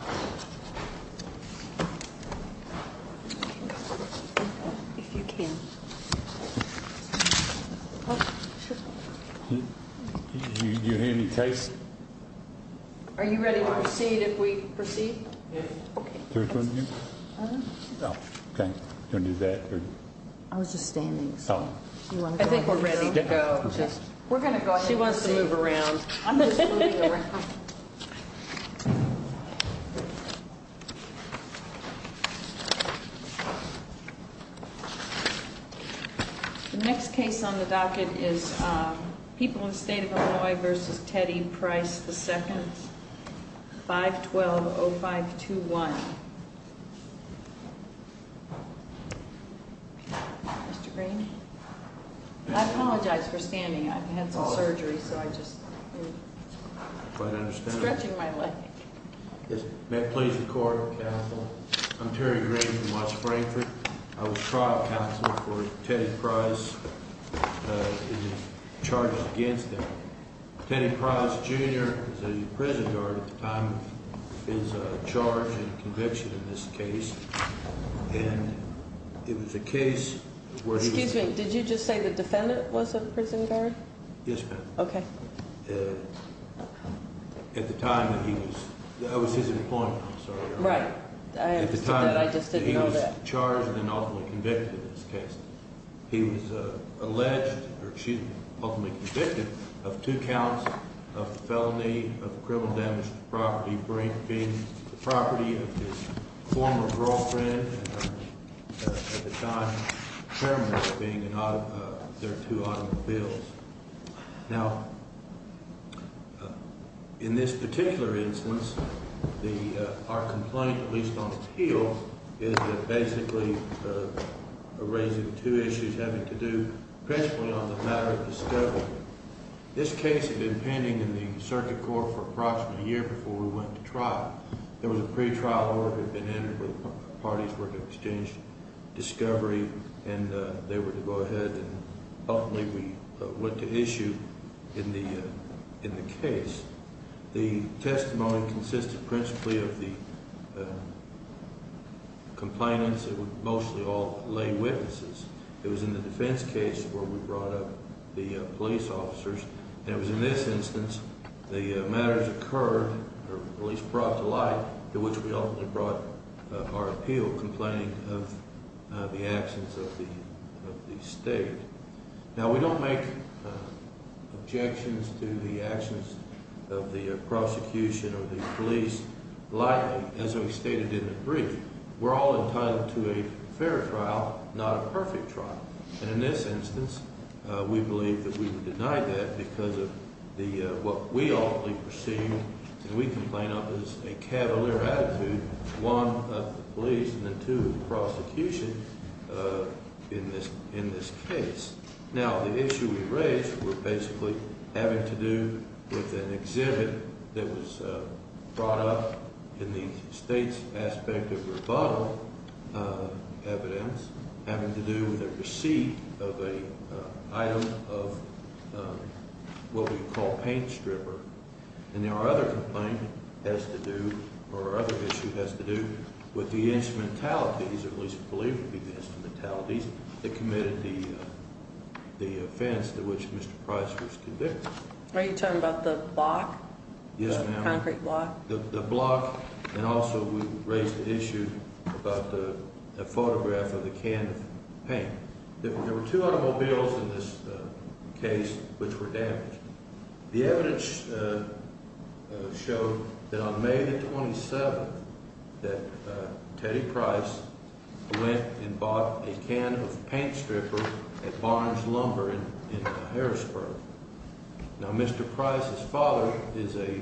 I think we're ready to go just we're going to go. She wants to move around. The next case on the docket is People in the State of Illinois v. Ted E. Price II, 512-0521. Mr. Green? I apologize for standing. I've had some surgery, so I'm just stretching my leg. May I please record, counsel? I'm Terry Green from Watts Frankfort. I was trial counsel for Ted E. Price and his charges against him. Ted E. Price, Jr. was a prison guard at the time of his charge and conviction in this case. And it was a case where he was... Excuse me, did you just say the defendant was a prison guard? Yes, ma'am. Okay. At the time that he was... That was his appointment, I'm sorry. Right. I understood that. I just didn't know that. At the time that he was charged and ultimately convicted in this case. He was alleged, or she was ultimately convicted of two counts of felony of criminal damage to property, being the property of his former girlfriend and her, at the time, chairman, being their two automobiles. Now, in this particular instance, our complaint, at least on appeal, is basically raising two issues having to do principally on the matter of discovery. This case had been pending in the circuit court for approximately a year before we went to trial. There was a pretrial order that had been entered where the parties were to exchange discovery, and they were to go ahead and ultimately we went to issue in the case. The testimony consisted principally of the complainants. It was mostly all lay witnesses. It was in the defense case where we brought up the police officers. And it was in this instance the matters occurred, or at least brought to light, to which we ultimately brought our appeal, complaining of the actions of the state. Now, we don't make objections to the actions of the prosecution or the police lightly, as we stated in the brief. We're all entitled to a fair trial, not a perfect trial. And in this instance, we believe that we were denied that because of what we ultimately perceived, and we complain of, as a cavalier attitude, one, of the police, and then two, of the prosecution in this case. Now, the issue we raised were basically having to do with an exhibit that was brought up in the state's aspect of rebuttal evidence, having to do with a receipt of an item of what we call paint stripper. And our other complaint has to do, or our other issue has to do, with the instrumentalities, or at least we believe it would be the instrumentalities, that committed the offense to which Mr. Price was convicted. Are you talking about the block? Yes, ma'am. The concrete block? The block, and also we raised the issue about the photograph of the can of paint. There were two automobiles in this case which were damaged. The evidence showed that on May the 27th that Teddy Price went and bought a can of paint stripper at Barnes Lumber in Harrisburg. Now, Mr. Price's father is a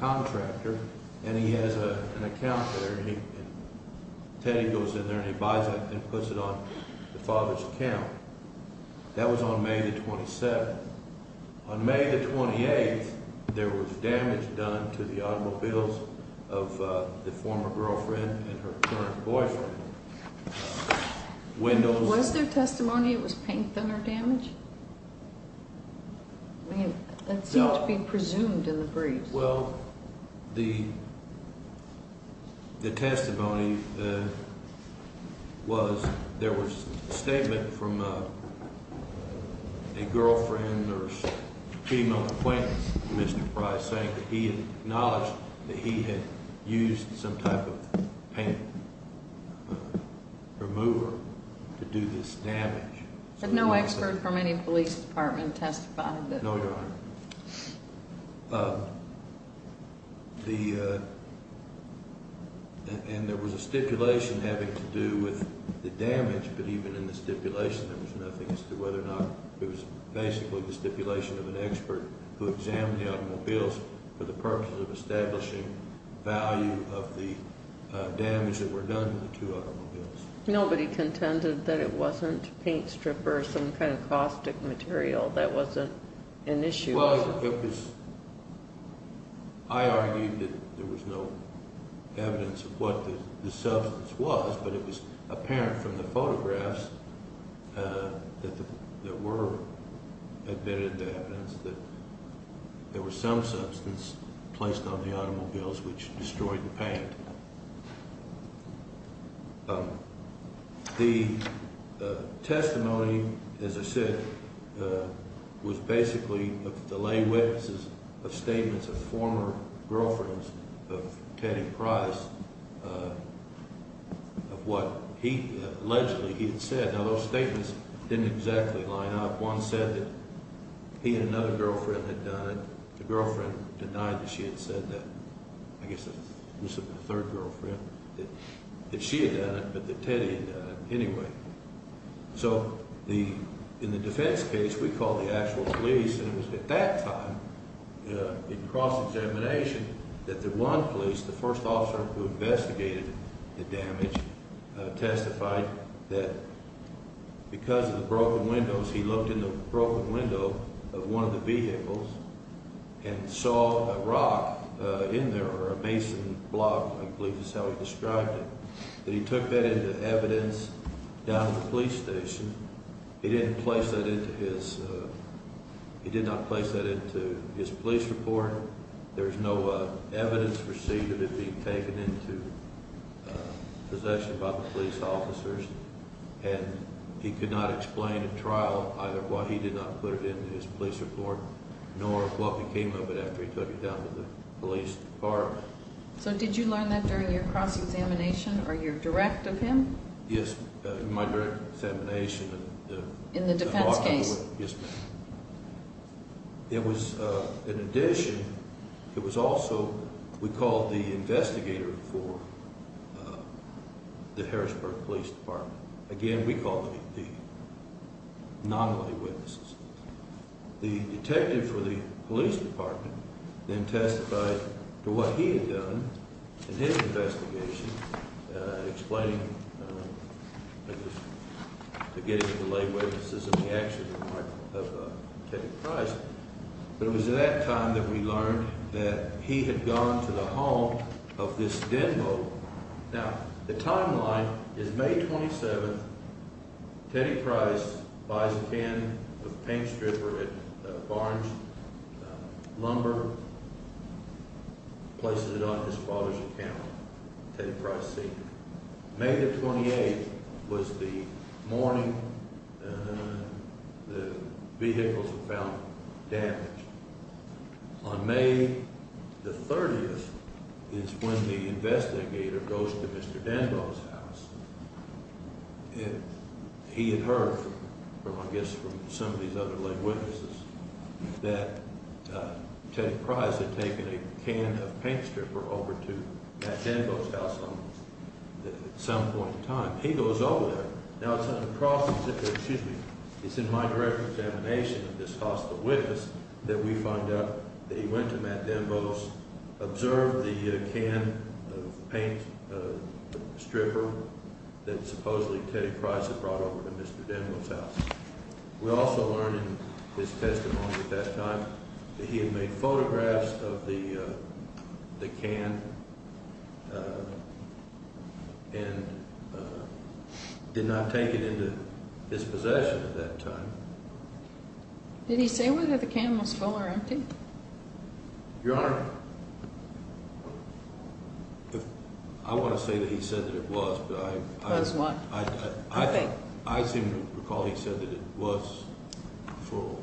contractor, and he has an account there, and Teddy goes in there and he buys it and puts it on the father's account. That was on May the 27th. On May the 28th, there was damage done to the automobiles of the former girlfriend and her current boyfriend. Was there testimony it was paint thinner damage? It seemed to be presumed in the briefs. Well, the testimony was there was a statement from a girlfriend or female acquaintance of Mr. Price saying that he acknowledged that he had used some type of paint remover to do this damage. Had no expert from any police department testified? No, Your Honor. And there was a stipulation having to do with the damage, but even in the stipulation there was nothing as to whether or not it was basically the stipulation of an expert who examined the automobiles for the purpose of establishing value of the damage that were done to the two automobiles. Nobody contended that it wasn't paint stripper, some kind of caustic material that wasn't an issue? I argued that there was no evidence of what the substance was, but it was apparent from the photographs that were admitted to evidence that there was some substance placed on the automobiles which destroyed the paint. The testimony, as I said, was basically the lay witnesses of statements of former girlfriends of Teddy Price of what he allegedly he had said. Now, those statements didn't exactly line up. One said that he and another girlfriend had done it. The girlfriend denied that she had said that. I guess it was the third girlfriend that she had done it, but that Teddy had done it anyway. So in the defense case, we called the actual police, and it was at that time in cross-examination that the one police, the first officer who investigated the damage, testified that because of the broken windows, he looked in the broken window of one of the vehicles and saw a rock in there, or a mason block, I believe is how he described it. He took that into evidence down at the police station. He did not place that into his police report. There's no evidence received of it being taken into possession by the police officers, and he could not explain in trial either why he did not put it into his police report nor what became of it after he took it down to the police department. So did you learn that during your cross-examination or your direct of him? Yes, in my direct examination of the rock in the window. In the defense case? Yes, ma'am. It was, in addition, it was also, we called the investigator for the Harrisburg Police Department. Again, we called the non-law witnesses. The detective for the police department then testified to what he had done in his investigation, explaining to get him to lay witnesses of the action of Teddy Price. But it was at that time that we learned that he had gone to the home of this Denbo. Now, the timeline is May 27. Teddy Price buys a can of paint stripper at Barnes Lumber, places it on his father's account, Teddy Price Sr. May the 28th was the morning the vehicles were found damaged. On May the 30th is when the investigator goes to Mr. Denbo's house. He had heard, I guess from some of these other lay witnesses, that Teddy Price had taken a can of paint stripper over to Matt Denbo's house at some point in time. He goes over there. Now, it's in my direct examination of this hostile witness that we find out that he went to Matt Denbo's, observed the can of paint stripper that supposedly Teddy Price had brought over to Mr. Denbo's house. We also learn in his testimony at that time that he had made photographs of the can and did not take it into his possession at that time. Did he say whether the can was full or empty? Your Honor, I want to say that he said that it was, but I seem to recall he said that it was full.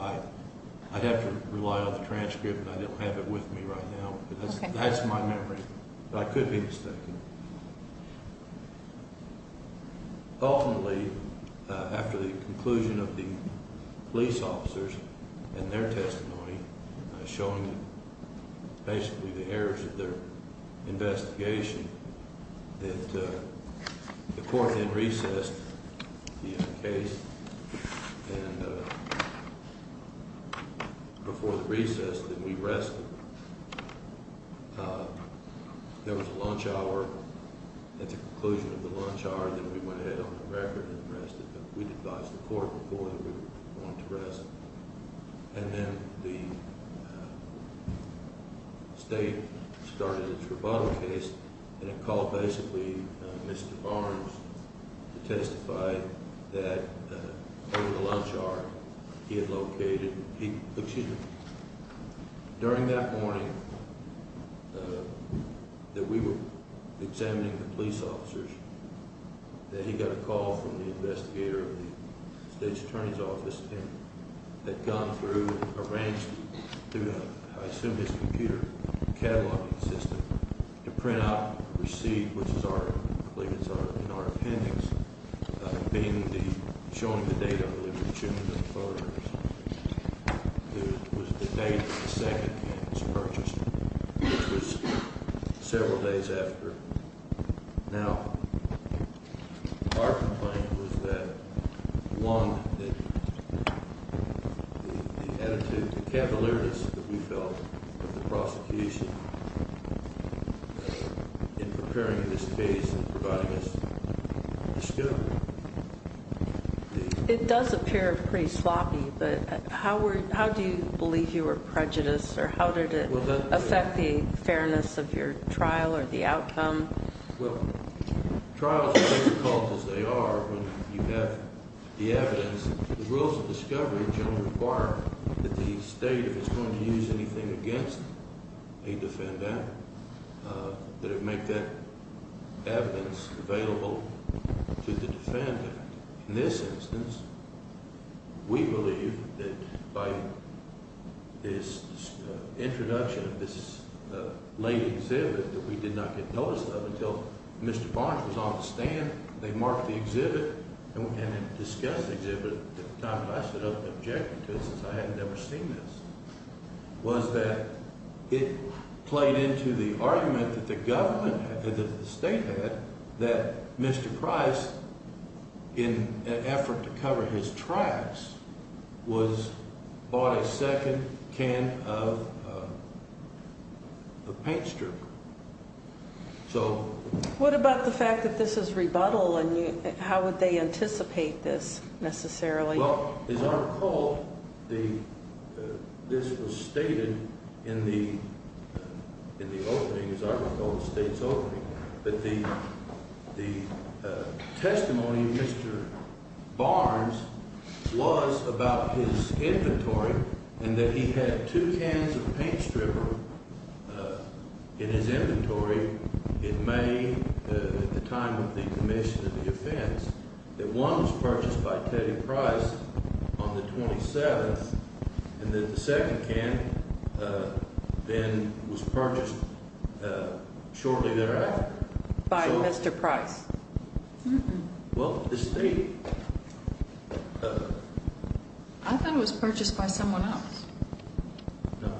I'd have to rely on the transcript, and I don't have it with me right now. That's my memory, but I could be mistaken. Ultimately, after the conclusion of the police officers and their testimony, showing basically the errors of their investigation, that the court then recessed the case. Before the recess, then we rested. There was a lunch hour at the conclusion of the lunch hour, and then we went ahead on the record and rested. We advised the court before that we were going to rest. And then the state started its rebuttal case, and it called basically Mr. Barnes to testify that over the lunch hour, he had located. During that morning that we were examining the police officers, that he got a call from the investigator of the state's attorney's office. They'd gone through and arranged through, I assume, his computer cataloging system to print out a receipt, which is already clear in our appendix, being the, showing the date, I believe, of June the 4th, which was the date the second can was purchased, which was several days after. Now, our complaint was that, one, the attitude, the cavalierness that we felt of the prosecution in preparing this case and providing us the scope. It does appear pretty sloppy, but how do you believe you were prejudiced, or how did it affect the fairness of your trial or the outcome? Well, trials are as difficult as they are when you have the evidence. The rules of discovery generally require that the state, if it's going to use anything against a defendant, that it make that evidence available to the defendant. In this instance, we believe that by this introduction of this late exhibit that we did not get notice of until Mr. Barnes was on the stand, they marked the exhibit and discussed the exhibit at a time when I stood up and objected to it since I had never seen this, was that it played into the argument that the government, that the state had, that Mr. Price, in an effort to cover his tracks, was bought a second can of paint stripper. What about the fact that this is rebuttal, and how would they anticipate this, necessarily? Well, as I recall, this was stated in the opening, as I recall, the state's opening, that the testimony of Mr. Barnes was about his inventory, and that he had two cans of paint stripper in his inventory in May at the time of the commission of the offense, that one was purchased by Teddy Price on the 27th, and that the second can then was purchased shortly thereafter. By Mr. Price? Well, the state... I thought it was purchased by someone else. No.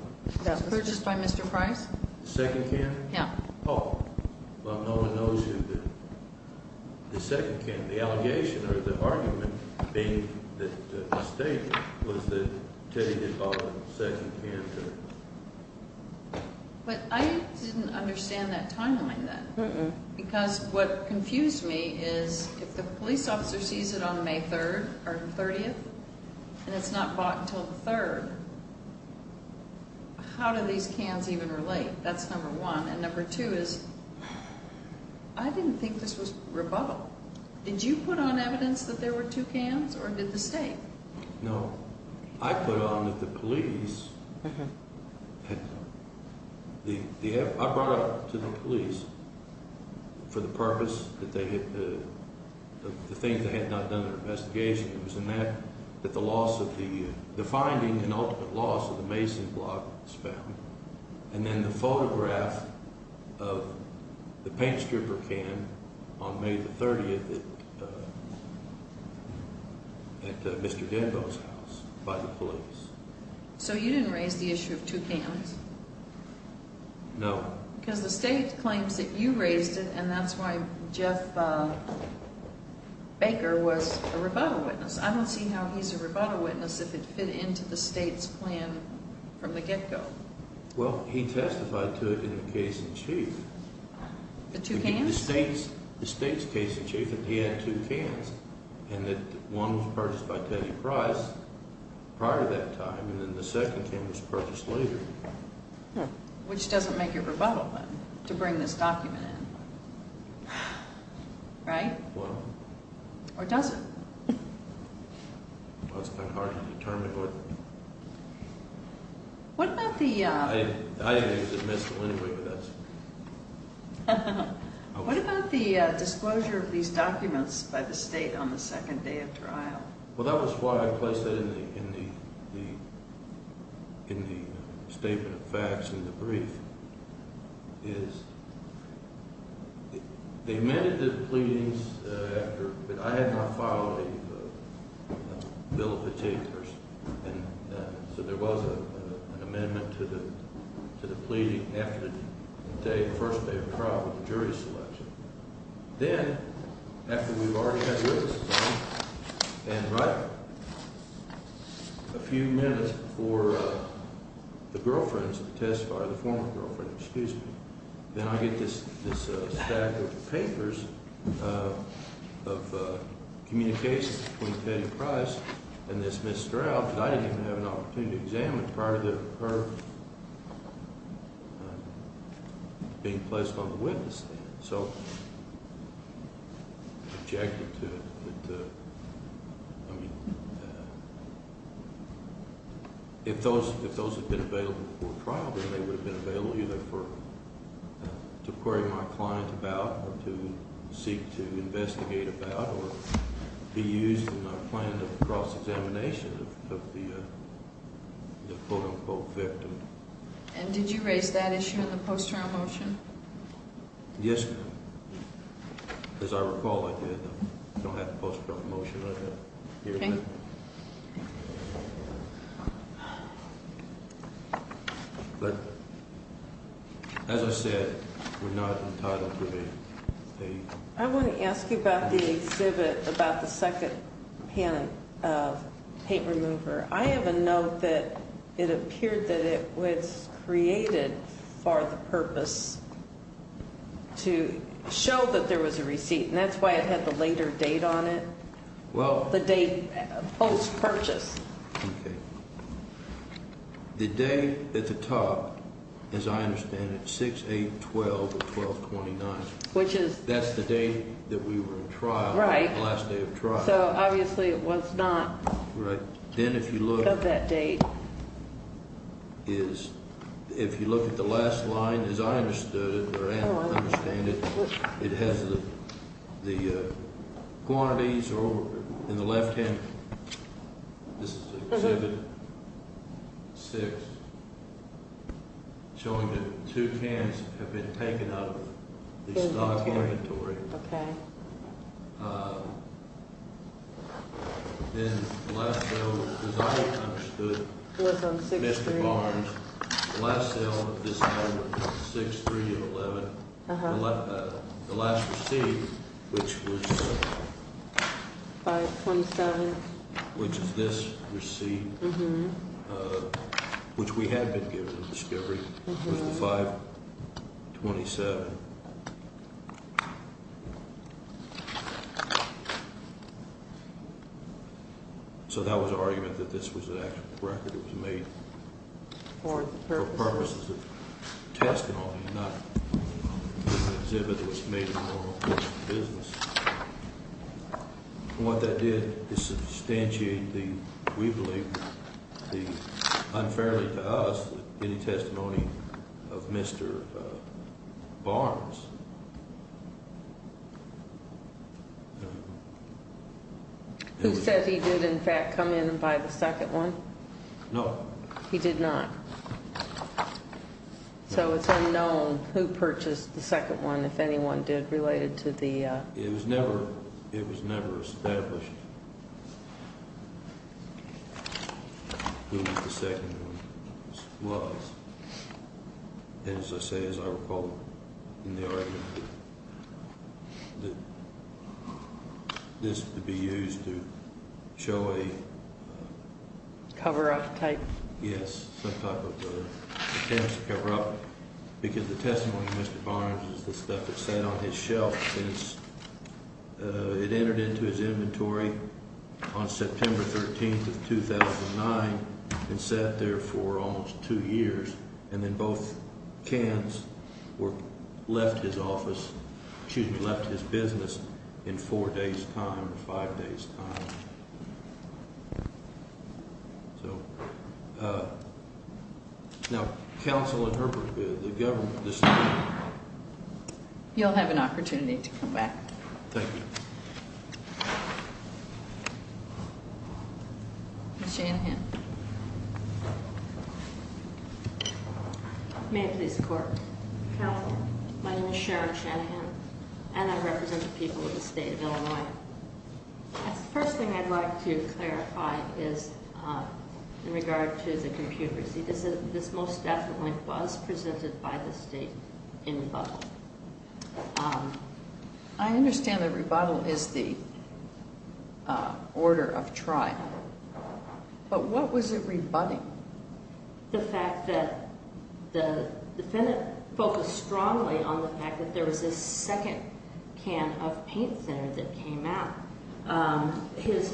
It was purchased by Mr. Price? The second can? Yeah. Well, no one knows who the second can, the allegation or the argument being that the state was that Teddy had bought a second can. But I didn't understand that timeline then, because what confused me is if the police officer sees it on May 3rd or 30th, and it's not bought until the 3rd, how do these cans even relate? That's number one. And number two is, I didn't think this was rebuttal. Did you put on evidence that there were two cans, or did the state? No. I put on that the police had... of the paint stripper can on May 30th at Mr. Denbo's house by the police. So you didn't raise the issue of two cans? No. Because the state claims that you raised it, and that's why Jeff Baker was a rebuttal witness. I don't see how he's a rebuttal witness if it fit into the state's plan from the get-go. Well, he testified to it in the case in chief. The two cans? The state's case in chief, that he had two cans, and that one was purchased by Teddy Price prior to that time, and then the second can was purchased later. Which doesn't make your rebuttal, then, to bring this document in. Right? Well... Or does it? Well, it's kind of hard to determine. What about the... I didn't use a pistol anyway, but that's... What about the disclosure of these documents by the state on the second day of trial? Well, that was why I placed that in the statement of facts in the brief. They amended the pleadings after, but I had not filed a bill of fatigue first. So there was an amendment to the pleading after the first day of trial with the jury selection. Then, after we've already had witnesses on it, and right a few minutes before the girlfriends of the testifier, the former girlfriend, excuse me, then I get this stack of papers of communications between Teddy Price and this Ms. Stroud, and I didn't even have an opportunity to examine it prior to her being placed on the witness stand. So I objected to it. I mean, if those had been available before trial, then they would have been available either to query my client about, or to seek to investigate about, or be used in a planned cross-examination of the quote-unquote victim. And did you raise that issue in the post-trial motion? Yes, ma'am. As I recall, I did. I don't have the post-trial motion right now. Okay. But, as I said, we're not entitled to a date. I want to ask you about the exhibit, about the second panel of paint remover. I have a note that it appeared that it was created for the purpose to show that there was a receipt, and that's why it had the later date on it, the date post-purchase. Okay. The day at the top, as I understand it, 6-8-12-12-29. Which is? That's the day that we were in trial. Right. The last day of trial. So, obviously, it was not of that date. Right. Then, if you look at the last line, as I understood it, or understand it, it has the quantities in the left-hand. This is exhibit 6, showing that two cans have been taken out of the stock inventory. Okay. Then, the last sale, as I understood, was on 6-3. Mr. Barnes. The last sale of this item was 6-3-11. Uh-huh. The last receipt, which was 5-27, which is this receipt, which we had been given at discovery, was the 5-27. So that was an argument that this was an actual record that was made for purposes of testimony, not an exhibit that was made in the business. And what that did is substantiate the, we believe, the unfairly to us testimony of Mr. Barnes. Who said he did, in fact, come in and buy the second one? No. He did not. So it's unknown who purchased the second one, if anyone did, related to the — It was never established who the second one was. And as I say, as I recall in the argument, this could be used to show a — Cover-up type. Yes. Some type of attempt to cover-up. Because the testimony of Mr. Barnes is the stuff that sat on his shelf since it entered into his inventory on September 13th of 2009 and sat there for almost two years. And then both cans were, left his office, excuse me, left his business in four days' time or five days' time. So, now, Counselor Herbert, the government, the state — You'll have an opportunity to come back. Thank you. Ms. Shanahan. May I please report? Counselor. My name is Sharon Shanahan, and I represent the people of the state of Illinois. The first thing I'd like to clarify is in regard to the computer. See, this most definitely was presented by the state in rebuttal. I understand that rebuttal is the order of trial. But what was it rebutting? The fact that the defendant focused strongly on the fact that there was this second can of paint thinner that came out. His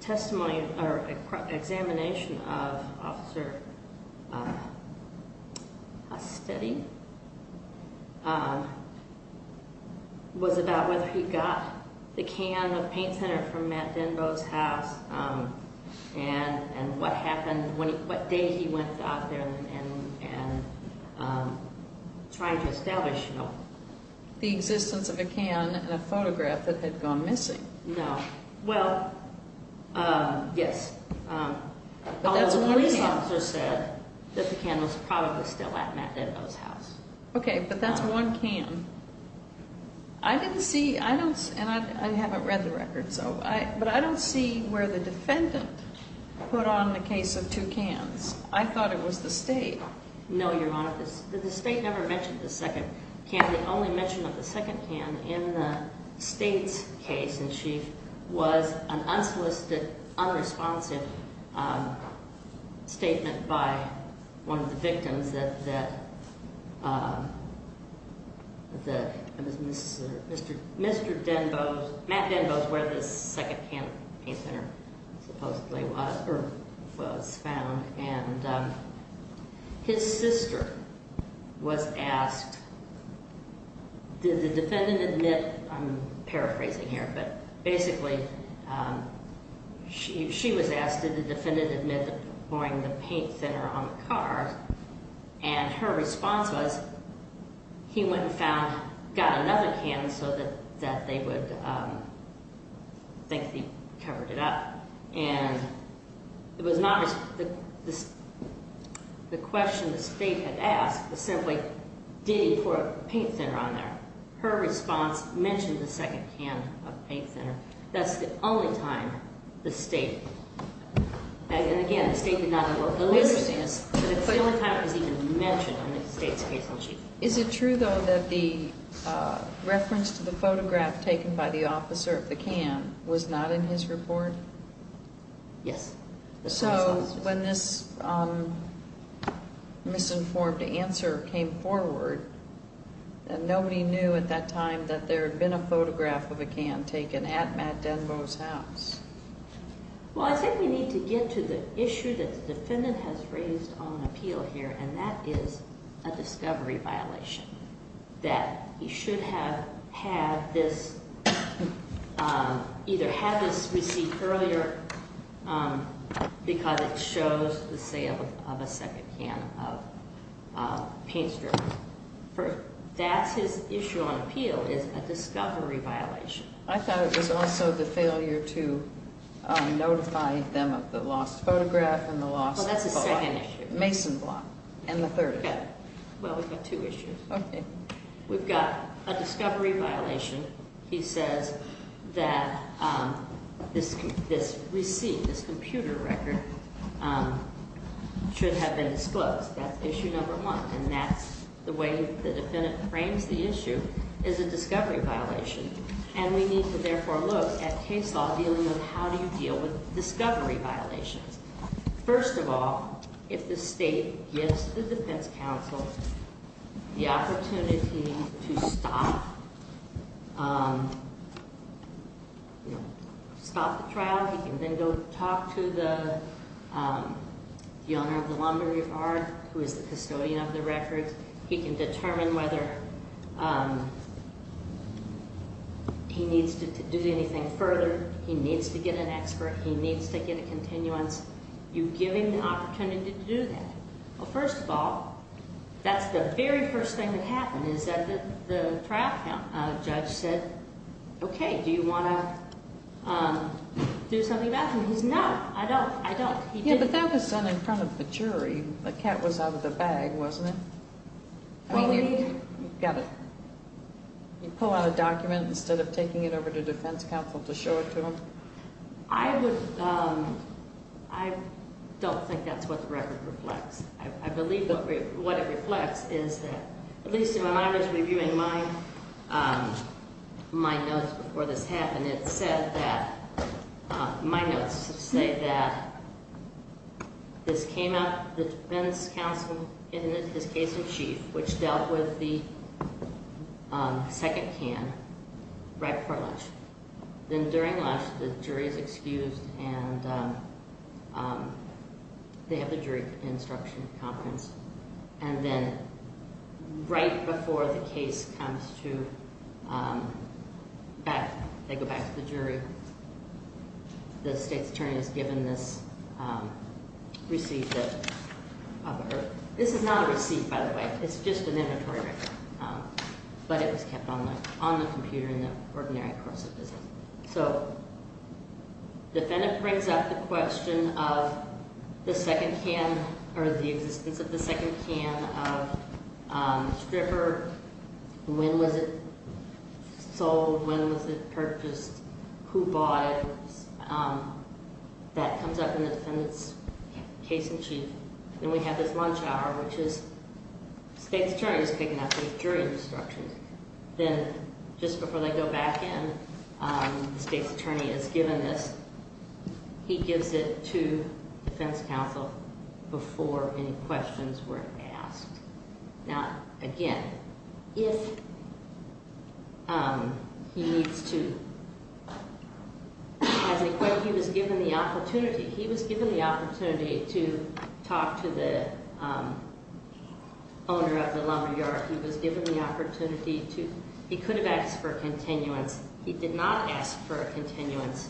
testimony or examination of Officer Astetti was about whether he got the can of paint thinner from Matt Denbo's house and what day he went out there and tried to establish the existence of a can. There was no can in a photograph that had gone missing. No. Well, yes. That's one can. Although the police officer said that the can was probably still at Matt Denbo's house. Okay, but that's one can. I didn't see — I don't — and I haven't read the record, so — but I don't see where the defendant put on the case of two cans. I thought it was the state. No, Your Honor. The state never mentioned the second can. The only mention of the second can in the state's case in chief was an unsolicited, unresponsive statement by one of the victims that Mr. Denbo's — Matt Denbo's where this second can of paint thinner supposedly was found. And his sister was asked, did the defendant admit — I'm paraphrasing here, but basically she was asked, did the defendant admit to pouring the paint thinner on the car? And her response was he went and found — got another can so that they would think he covered it up. And it was not — the question the state had asked was simply, did he pour a paint thinner on there? Her response mentioned the second can of paint thinner. That's the only time the state — and again, the state did not — How interesting. But it's the only time it was even mentioned in the state's case in chief. Is it true, though, that the reference to the photograph taken by the officer of the can was not in his report? Yes. So when this misinformed answer came forward, nobody knew at that time that there had been a photograph of a can taken at Matt Denbo's house. Well, I think we need to get to the issue that the defendant has raised on appeal here, and that is a discovery violation, that he should have had this — either had this received earlier because it shows the sale of a second can of paint thinner. That's his issue on appeal is a discovery violation. I thought it was also the failure to notify them of the lost photograph and the lost block. Well, that's the second issue. Mason block, and the third issue. Well, we've got two issues. Okay. We've got a discovery violation. He says that this receipt, this computer record, should have been disclosed. That's issue number one. And that's the way the defendant frames the issue is a discovery violation. And we need to therefore look at case law dealing with how do you deal with discovery violations. First of all, if the state gives the defense counsel the opportunity to stop the trial, he can then go talk to the owner of the laundry yard, who is the custodian of the records. He can determine whether he needs to do anything further. He needs to get an expert. He needs to get a continuance. You give him the opportunity to do that. Well, first of all, that's the very first thing that happened is that the trial judge said, okay, do you want to do something about him? He said, no, I don't. I don't. He didn't. It could have been sent in front of the jury. The cat was out of the bag, wasn't it? You pull out a document instead of taking it over to defense counsel to show it to him? I don't think that's what the record reflects. I believe what it reflects is that at least in my mind as reviewing my notes before this happened, it said that my notes say that this came up, the defense counsel in his case in chief, which dealt with the second can right before lunch. Then during lunch, the jury is excused, and they have the jury instruction conference. And then right before the case comes to back, they go back to the jury. The state's attorney has given this receipt of her. This is not a receipt, by the way. It's just an inventory record. But it was kept on the computer in the ordinary course of business. So the defendant brings up the question of the existence of the second can of stripper. When was it sold? When was it purchased? Who bought it? That comes up in the defendant's case in chief. Then we have this lunch hour, which is the state's attorney is picking up these jury instructions. Then just before they go back in, the state's attorney has given this. He gives it to defense counsel before any questions were asked. Now, again, if he needs to, as I quote, he was given the opportunity. He was given the opportunity to talk to the owner of the laundry yard. He was given the opportunity to, he could have asked for a continuance. He did not ask for a continuance.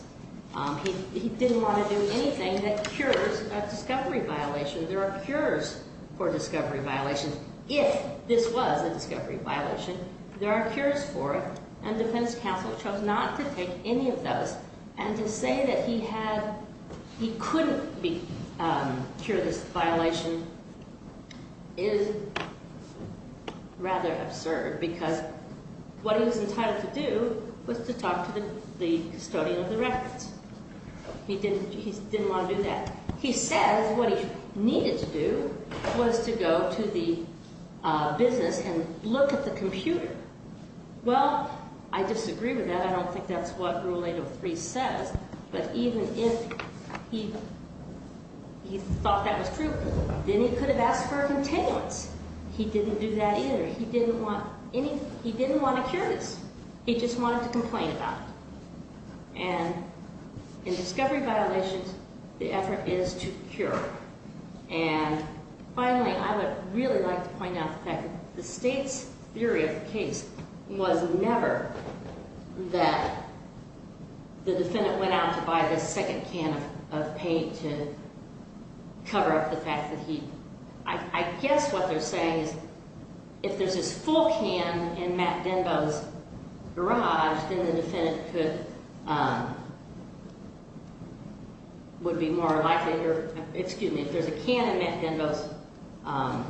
He didn't want to do anything that cures a discovery violation. There are cures for discovery violations. If this was a discovery violation, there are cures for it. And defense counsel chose not to take any of those. And to say that he couldn't cure this violation is rather absurd. Because what he was entitled to do was to talk to the custodian of the records. He didn't want to do that. He said what he needed to do was to go to the business and look at the computer. Well, I disagree with that. I don't think that's what Rule 803 says. But even if he thought that was true, then he could have asked for a continuance. He didn't do that either. He didn't want any, he didn't want to cure this. He just wanted to complain about it. And in discovery violations, the effort is to cure. And finally, I would really like to point out that the state's theory of the case was never that the defendant went out to buy this second can of paint to cover up the fact that he, I guess what they're saying is if there's this full can in Matt Denbo's garage, then the defendant could, would be more likely to, excuse me, if there's a can in Matt Denbo's, well,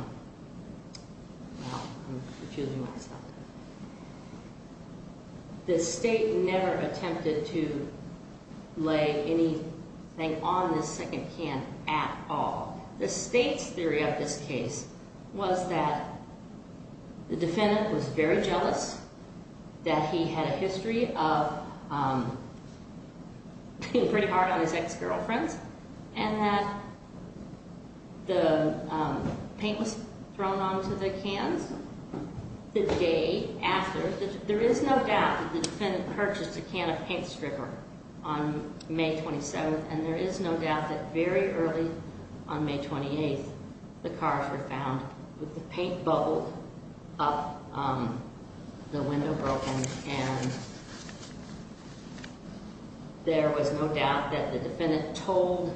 I'm confusing myself. The state never attempted to lay anything on this second can at all. The state's theory of this case was that the defendant was very jealous, that he had a history of being pretty hard on his ex-girlfriends, and that the paint was thrown onto the cans the day after. There is no doubt that the defendant purchased a can of paint stripper on May 27th, and there is no doubt that very early on May 28th, the cars were found with the paint bubbled up, the window broken, and there was no doubt that the defendant told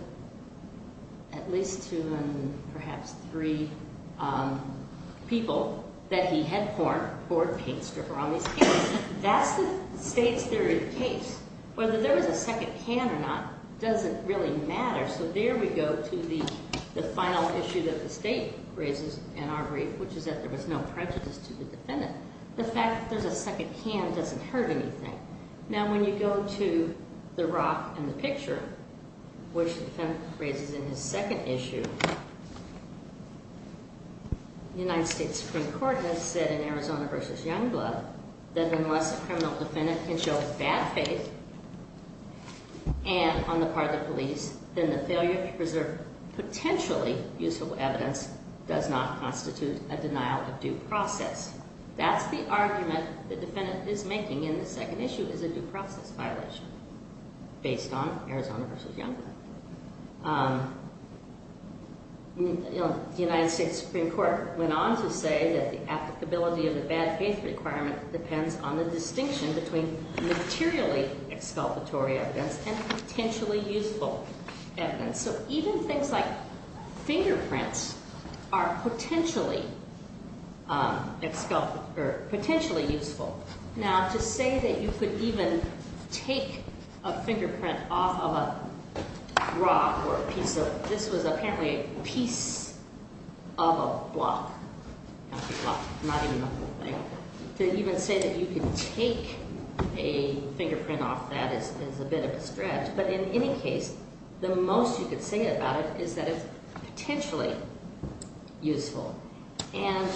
at least two and perhaps three people that he had poured paint stripper on these cans. That's the state's theory of the case. Whether there was a second can or not doesn't really matter, so there we go to the final issue that the state raises in our brief, which is that there was no prejudice to the defendant. The fact that there's a second can doesn't hurt anything. Now, when you go to the rock in the picture, which the defendant raises in his second issue, the United States Supreme Court has said in Arizona v. Youngblood that unless a criminal defendant can show bad faith on the part of the police, then the failure to preserve potentially useful evidence does not constitute a denial of due process. That's the argument the defendant is making in the second issue is a due process violation based on Arizona v. Youngblood. The United States Supreme Court went on to say that the applicability of the bad faith requirement depends on the distinction between materially exculpatory evidence and potentially useful evidence. So even things like fingerprints are potentially useful. Now, to say that you could even take a fingerprint off of a rock or a piece of, this was apparently a piece of a block, not even a whole thing. To even say that you could take a fingerprint off that is a bit of a stretch. But in any case, the most you could say about it is that it's potentially useful. And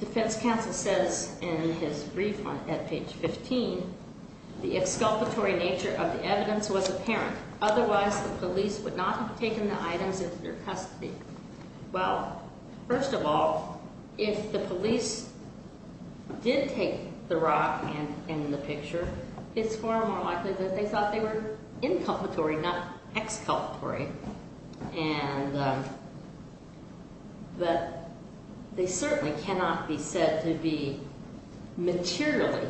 defense counsel says in his brief at page 15, the exculpatory nature of the evidence was apparent. Otherwise, the police would not have taken the items into their custody. Well, first of all, if the police did take the rock and the picture, it's far more likely that they thought they were inculpatory, not exculpatory. And that they certainly cannot be said to be materially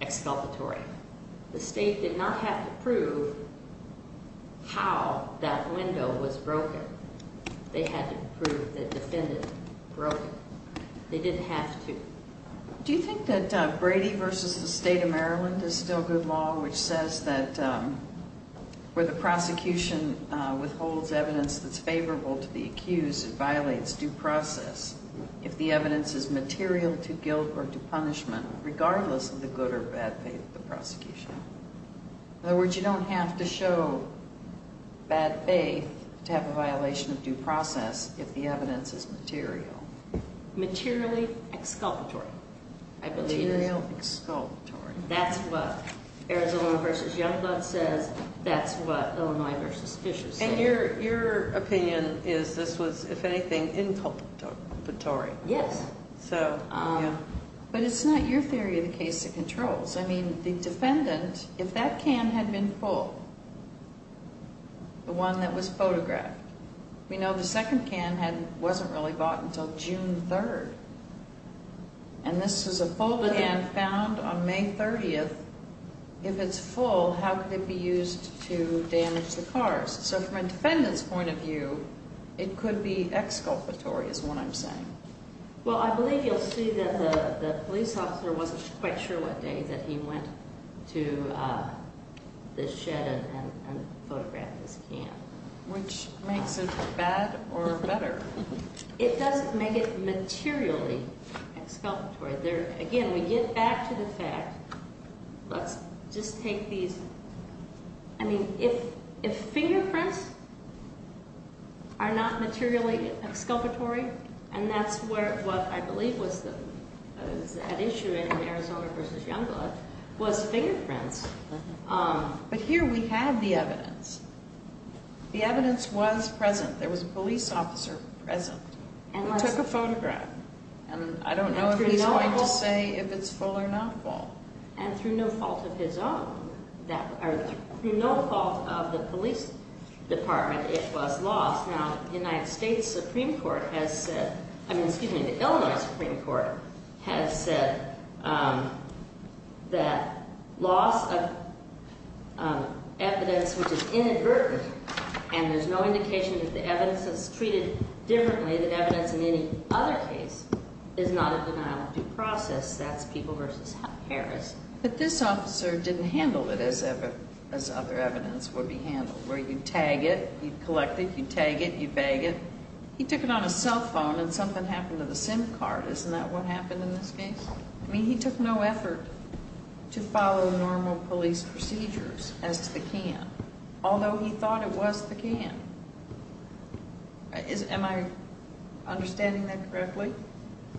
exculpatory. The state did not have to prove how that window was broken. They had to prove the defendant broke it. They didn't have to. Do you think that Brady v. The State of Maryland is still good law, which says that where the prosecution withholds evidence that's favorable to the accused, it violates due process if the evidence is material to guilt or to punishment, regardless of the good or bad faith of the prosecution? In other words, you don't have to show bad faith to have a violation of due process if the evidence is material. Materially exculpatory, I believe. Material exculpatory. That's what Arizona v. Youngblood says. That's what Illinois v. Fishers says. And your opinion is this was, if anything, inculpatory. Yes. But it's not your theory of the case that controls. I mean, the defendant, if that can had been full, the one that was photographed, we know the second can wasn't really bought until June 3rd. And this is a full can found on May 30th. If it's full, how could it be used to damage the cars? So from a defendant's point of view, it could be exculpatory is what I'm saying. Well, I believe you'll see that the police officer wasn't quite sure what day that he went to the shed and photographed this can. Which makes it bad or better. It doesn't make it materially exculpatory. Again, we get back to the fact. Let's just take these. I mean, if fingerprints are not materially exculpatory, and that's what I believe was at issue in Arizona v. Youngblood was fingerprints. But here we have the evidence. The evidence was present. There was a police officer present who took a photograph. And I don't know if he's going to say if it's full or not full. And through no fault of his own, or through no fault of the police department, it was lost. Now, the Illinois Supreme Court has said that loss of evidence, which is inadvertent, and there's no indication that the evidence is treated differently than evidence in any other case, is not a denial of due process. That's People v. Harris. But this officer didn't handle it as other evidence would be handled, where you'd tag it, you'd collect it, you'd tag it, you'd bag it. He took it on his cell phone and something happened to the SIM card. Isn't that what happened in this case? I mean, he took no effort to follow normal police procedures as to the can, although he thought it was the can. Am I understanding that correctly?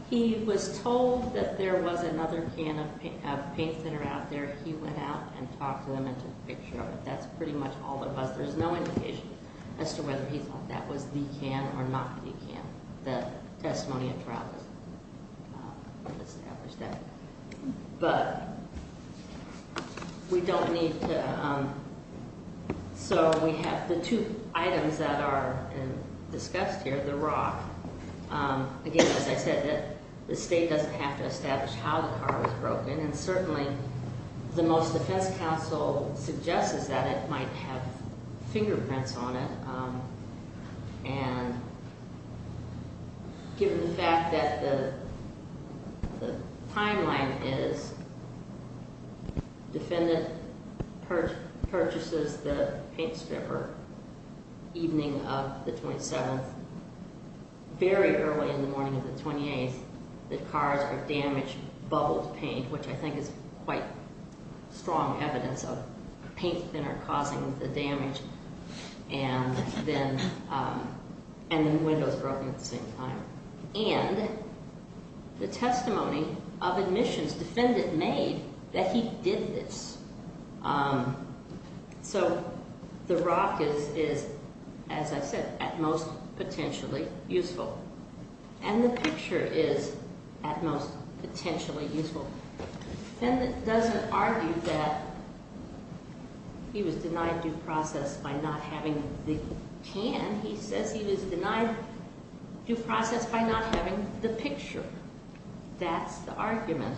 He was told that there was another can of paint that are out there. He went out and talked to them and took a picture of it. That's pretty much all there was. There's no indication as to whether he thought that was the can or not the can. The testimony of trial doesn't establish that. But we don't need to. So we have the two items that are discussed here, the rock. Again, as I said, the state doesn't have to establish how the car was broken, and certainly the most defense counsel suggests that it might have fingerprints on it. And given the fact that the timeline is defendant purchases the paint stripper evening of the 27th, very early in the morning of the 28th, the cars are damaged, bubbled paint, which I think is quite strong evidence of paint thinner causing the damage. And then windows broken at the same time. And the testimony of admissions defendant made that he did this. So the rock is, as I said, at most potentially useful. And the picture is at most potentially useful. Defendant doesn't argue that he was denied due process by not having the can. He says he was denied due process by not having the picture. That's the argument.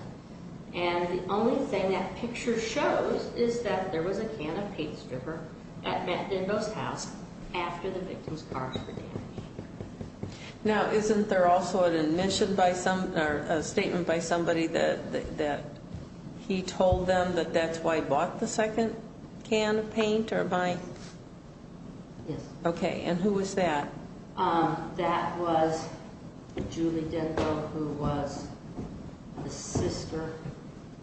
And the only thing that picture shows is that there was a can of paint stripper at Matt Dindo's house after the victim's cars were damaged. Now, isn't there also a statement by somebody that he told them that that's why he bought the second can of paint? Yes. Okay. And who was that? That was Julie Dindo, who was the sister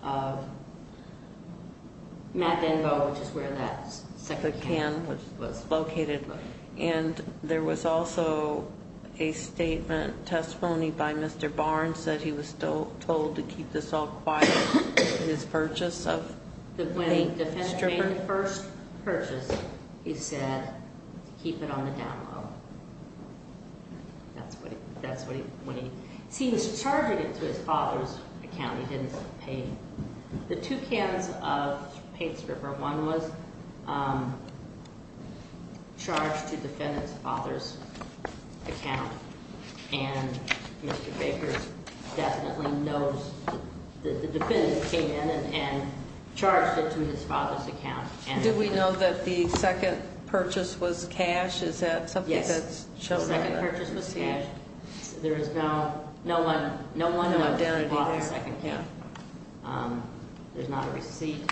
of Matt Dindo, which is where that second can was located. And there was also a statement, testimony, by Mr. Barnes that he was told to keep this all quiet, his purchase of paint stripper. When the defendant made the first purchase, he said, keep it on the down-low. That's what he, when he, see, he was charging it to his father's account. He didn't pay. The two cans of paint stripper, one was charged to defendant's father's account. And Mr. Bakers definitely knows that the defendant came in and charged it to his father's account. Did we know that the second purchase was cash? Is that something that's shown? Yes, the second purchase was cash. There is no, no one, no one knows who bought the second can. There's not a receipt.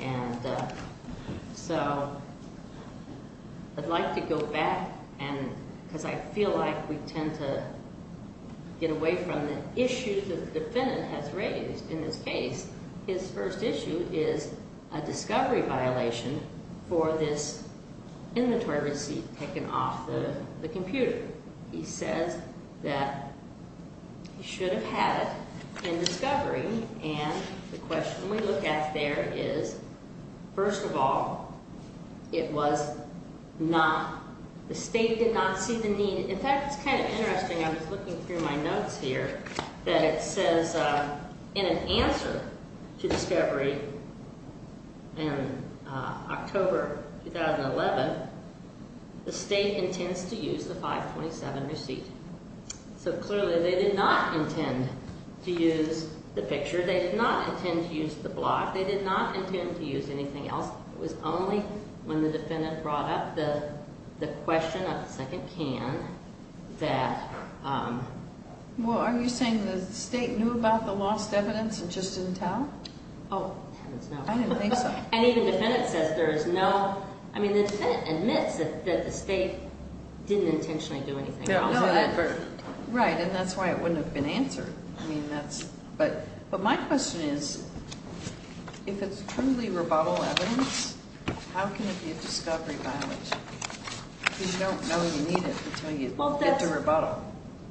And so I'd like to go back and, because I feel like we tend to get away from the issues that the defendant has raised in this case. His first issue is a discovery violation for this inventory receipt taken off the computer. He says that he should have had it in discovery. And the question we look at there is, first of all, it was not, the state did not see the need. In fact, it's kind of interesting. I was looking through my notes here that it says in an answer to discovery in October 2011, the state intends to use the 527 receipt. So clearly they did not intend to use the picture. They did not intend to use the block. They did not intend to use anything else. It was only when the defendant brought up the question of the second can that. Well, are you saying the state knew about the lost evidence and just didn't tell? Oh, I didn't think so. And even the defendant says there is no, I mean, the defendant admits that the state didn't intentionally do anything. Right, and that's why it wouldn't have been answered. But my question is, if it's truly rebuttal evidence, how can it be a discovery violation? Because you don't know you need it until you get to rebuttal.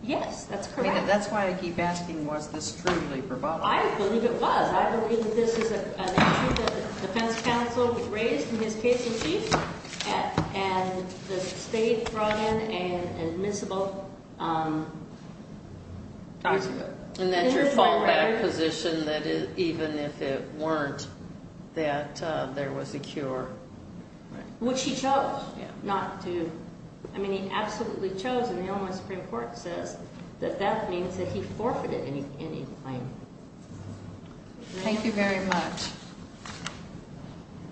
Yes, that's correct. That's why I keep asking was this truly rebuttal. I believe it was. I believe that this is an issue that the defense counsel raised in his case of chief and the state brought in an admissible document. And that your fallback position that even if it weren't that there was a cure. Which he chose not to. I mean, he absolutely chose and the Illinois Supreme Court says that that means that he forfeited any claim. Thank you very much.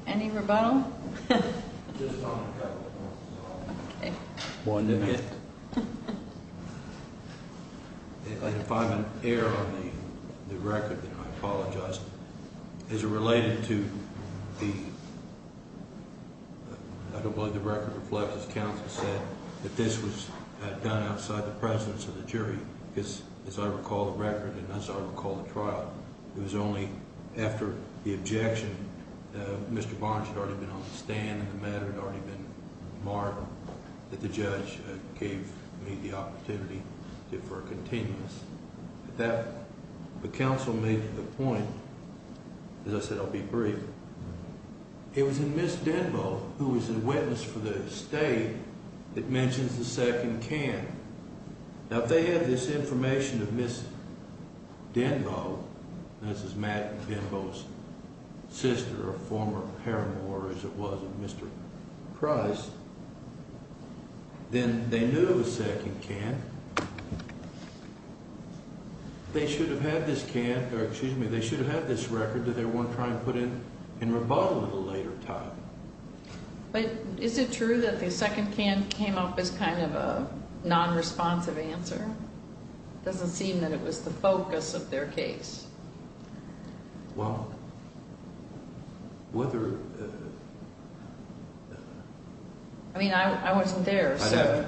Any rebuttal? Just on a couple of points. Okay. If I'm an error on the record, then I apologize. Is it related to the, I don't believe the record reflects as counsel said, that this was done outside the presence of the jury. Because as I recall the record and as I recall the trial, it was only after the objection. Mr. Barnes had already been on the stand and the matter had already been marked. That the judge gave me the opportunity for a continuous. At that point, the counsel made the point, as I said I'll be brief. It was in Ms. Denbo who was a witness for the state that mentions the second can. Now if they had this information of Ms. Denbo, this is Matt Denbo's sister or former paramour as it was of Mr. Price. Then they knew of a second can. They should have had this can, or excuse me, they should have had this record that they weren't trying to put in rebuttal at a later time. But is it true that the second can came up as kind of a non-responsive answer? It doesn't seem that it was the focus of their case. Well, whether. I mean I wasn't there, so.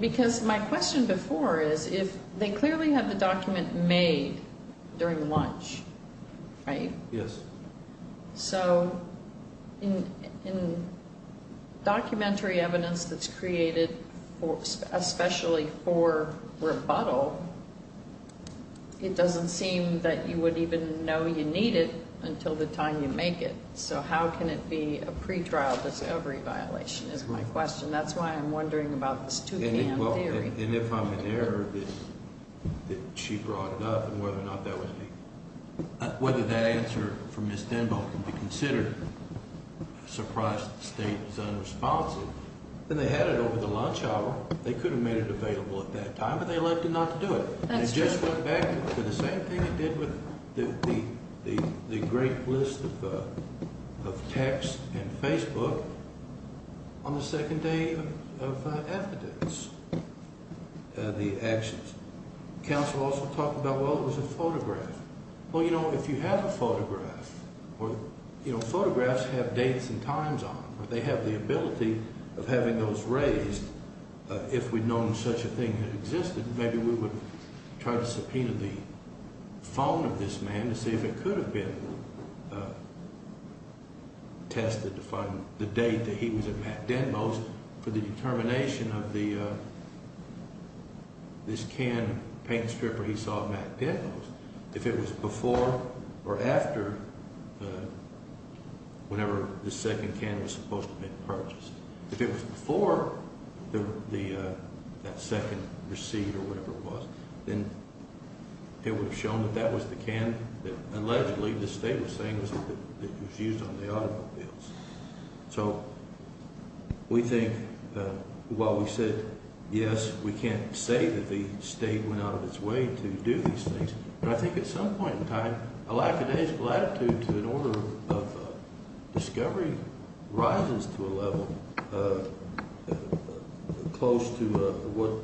Because my question before is if they clearly had the document made during lunch, right? Yes. So in documentary evidence that's created especially for rebuttal, it doesn't seem that you would even know you need it until the time you make it. So how can it be a pretrial discovery violation is my question. That's why I'm wondering about this two can theory. And if I'm in error, did she brought it up and whether or not that was me? Whether that answer from Ms. Denbo can be considered a surprise that the state is unresponsive. Then they had it over the lunch hour. They could have made it available at that time, but they elected not to do it. That's true. They just went back to the same thing they did with the great list of texts and Facebook on the second day of evidence, the actions. Counsel also talked about, well, it was a photograph. Well, you know, if you have a photograph or photographs have dates and times on them, they have the ability of having those raised. If we'd known such a thing existed, maybe we would try to subpoena the phone of this man to see if it could have been. Tested to find the date that he was at MacDenmo's for the determination of the. This can paint stripper, he saw MacDenmo's if it was before or after. Whenever the second can was supposed to be purchased, if it was before the second receipt or whatever it was, then. It would have shown that that was the can that allegedly the state was saying was that it was used on the automobiles. So. We think while we said, yes, we can't say that the state went out of its way to do these things. I think at some point in time, a lack of day's latitude to an order of discovery rises to a level. Close to what?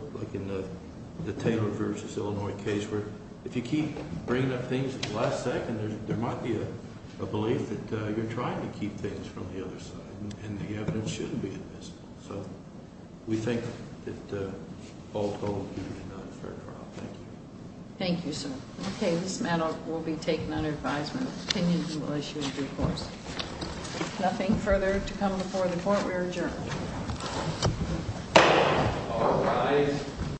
The Taylor versus Illinois case where if you keep bringing up things last second, there might be a belief that you're trying to keep things from the other side. And the evidence shouldn't be admissible. So we think that all told. Thank you, sir. Okay. This matter will be taken under advisement. Nothing further to come before the court. We're adjourned.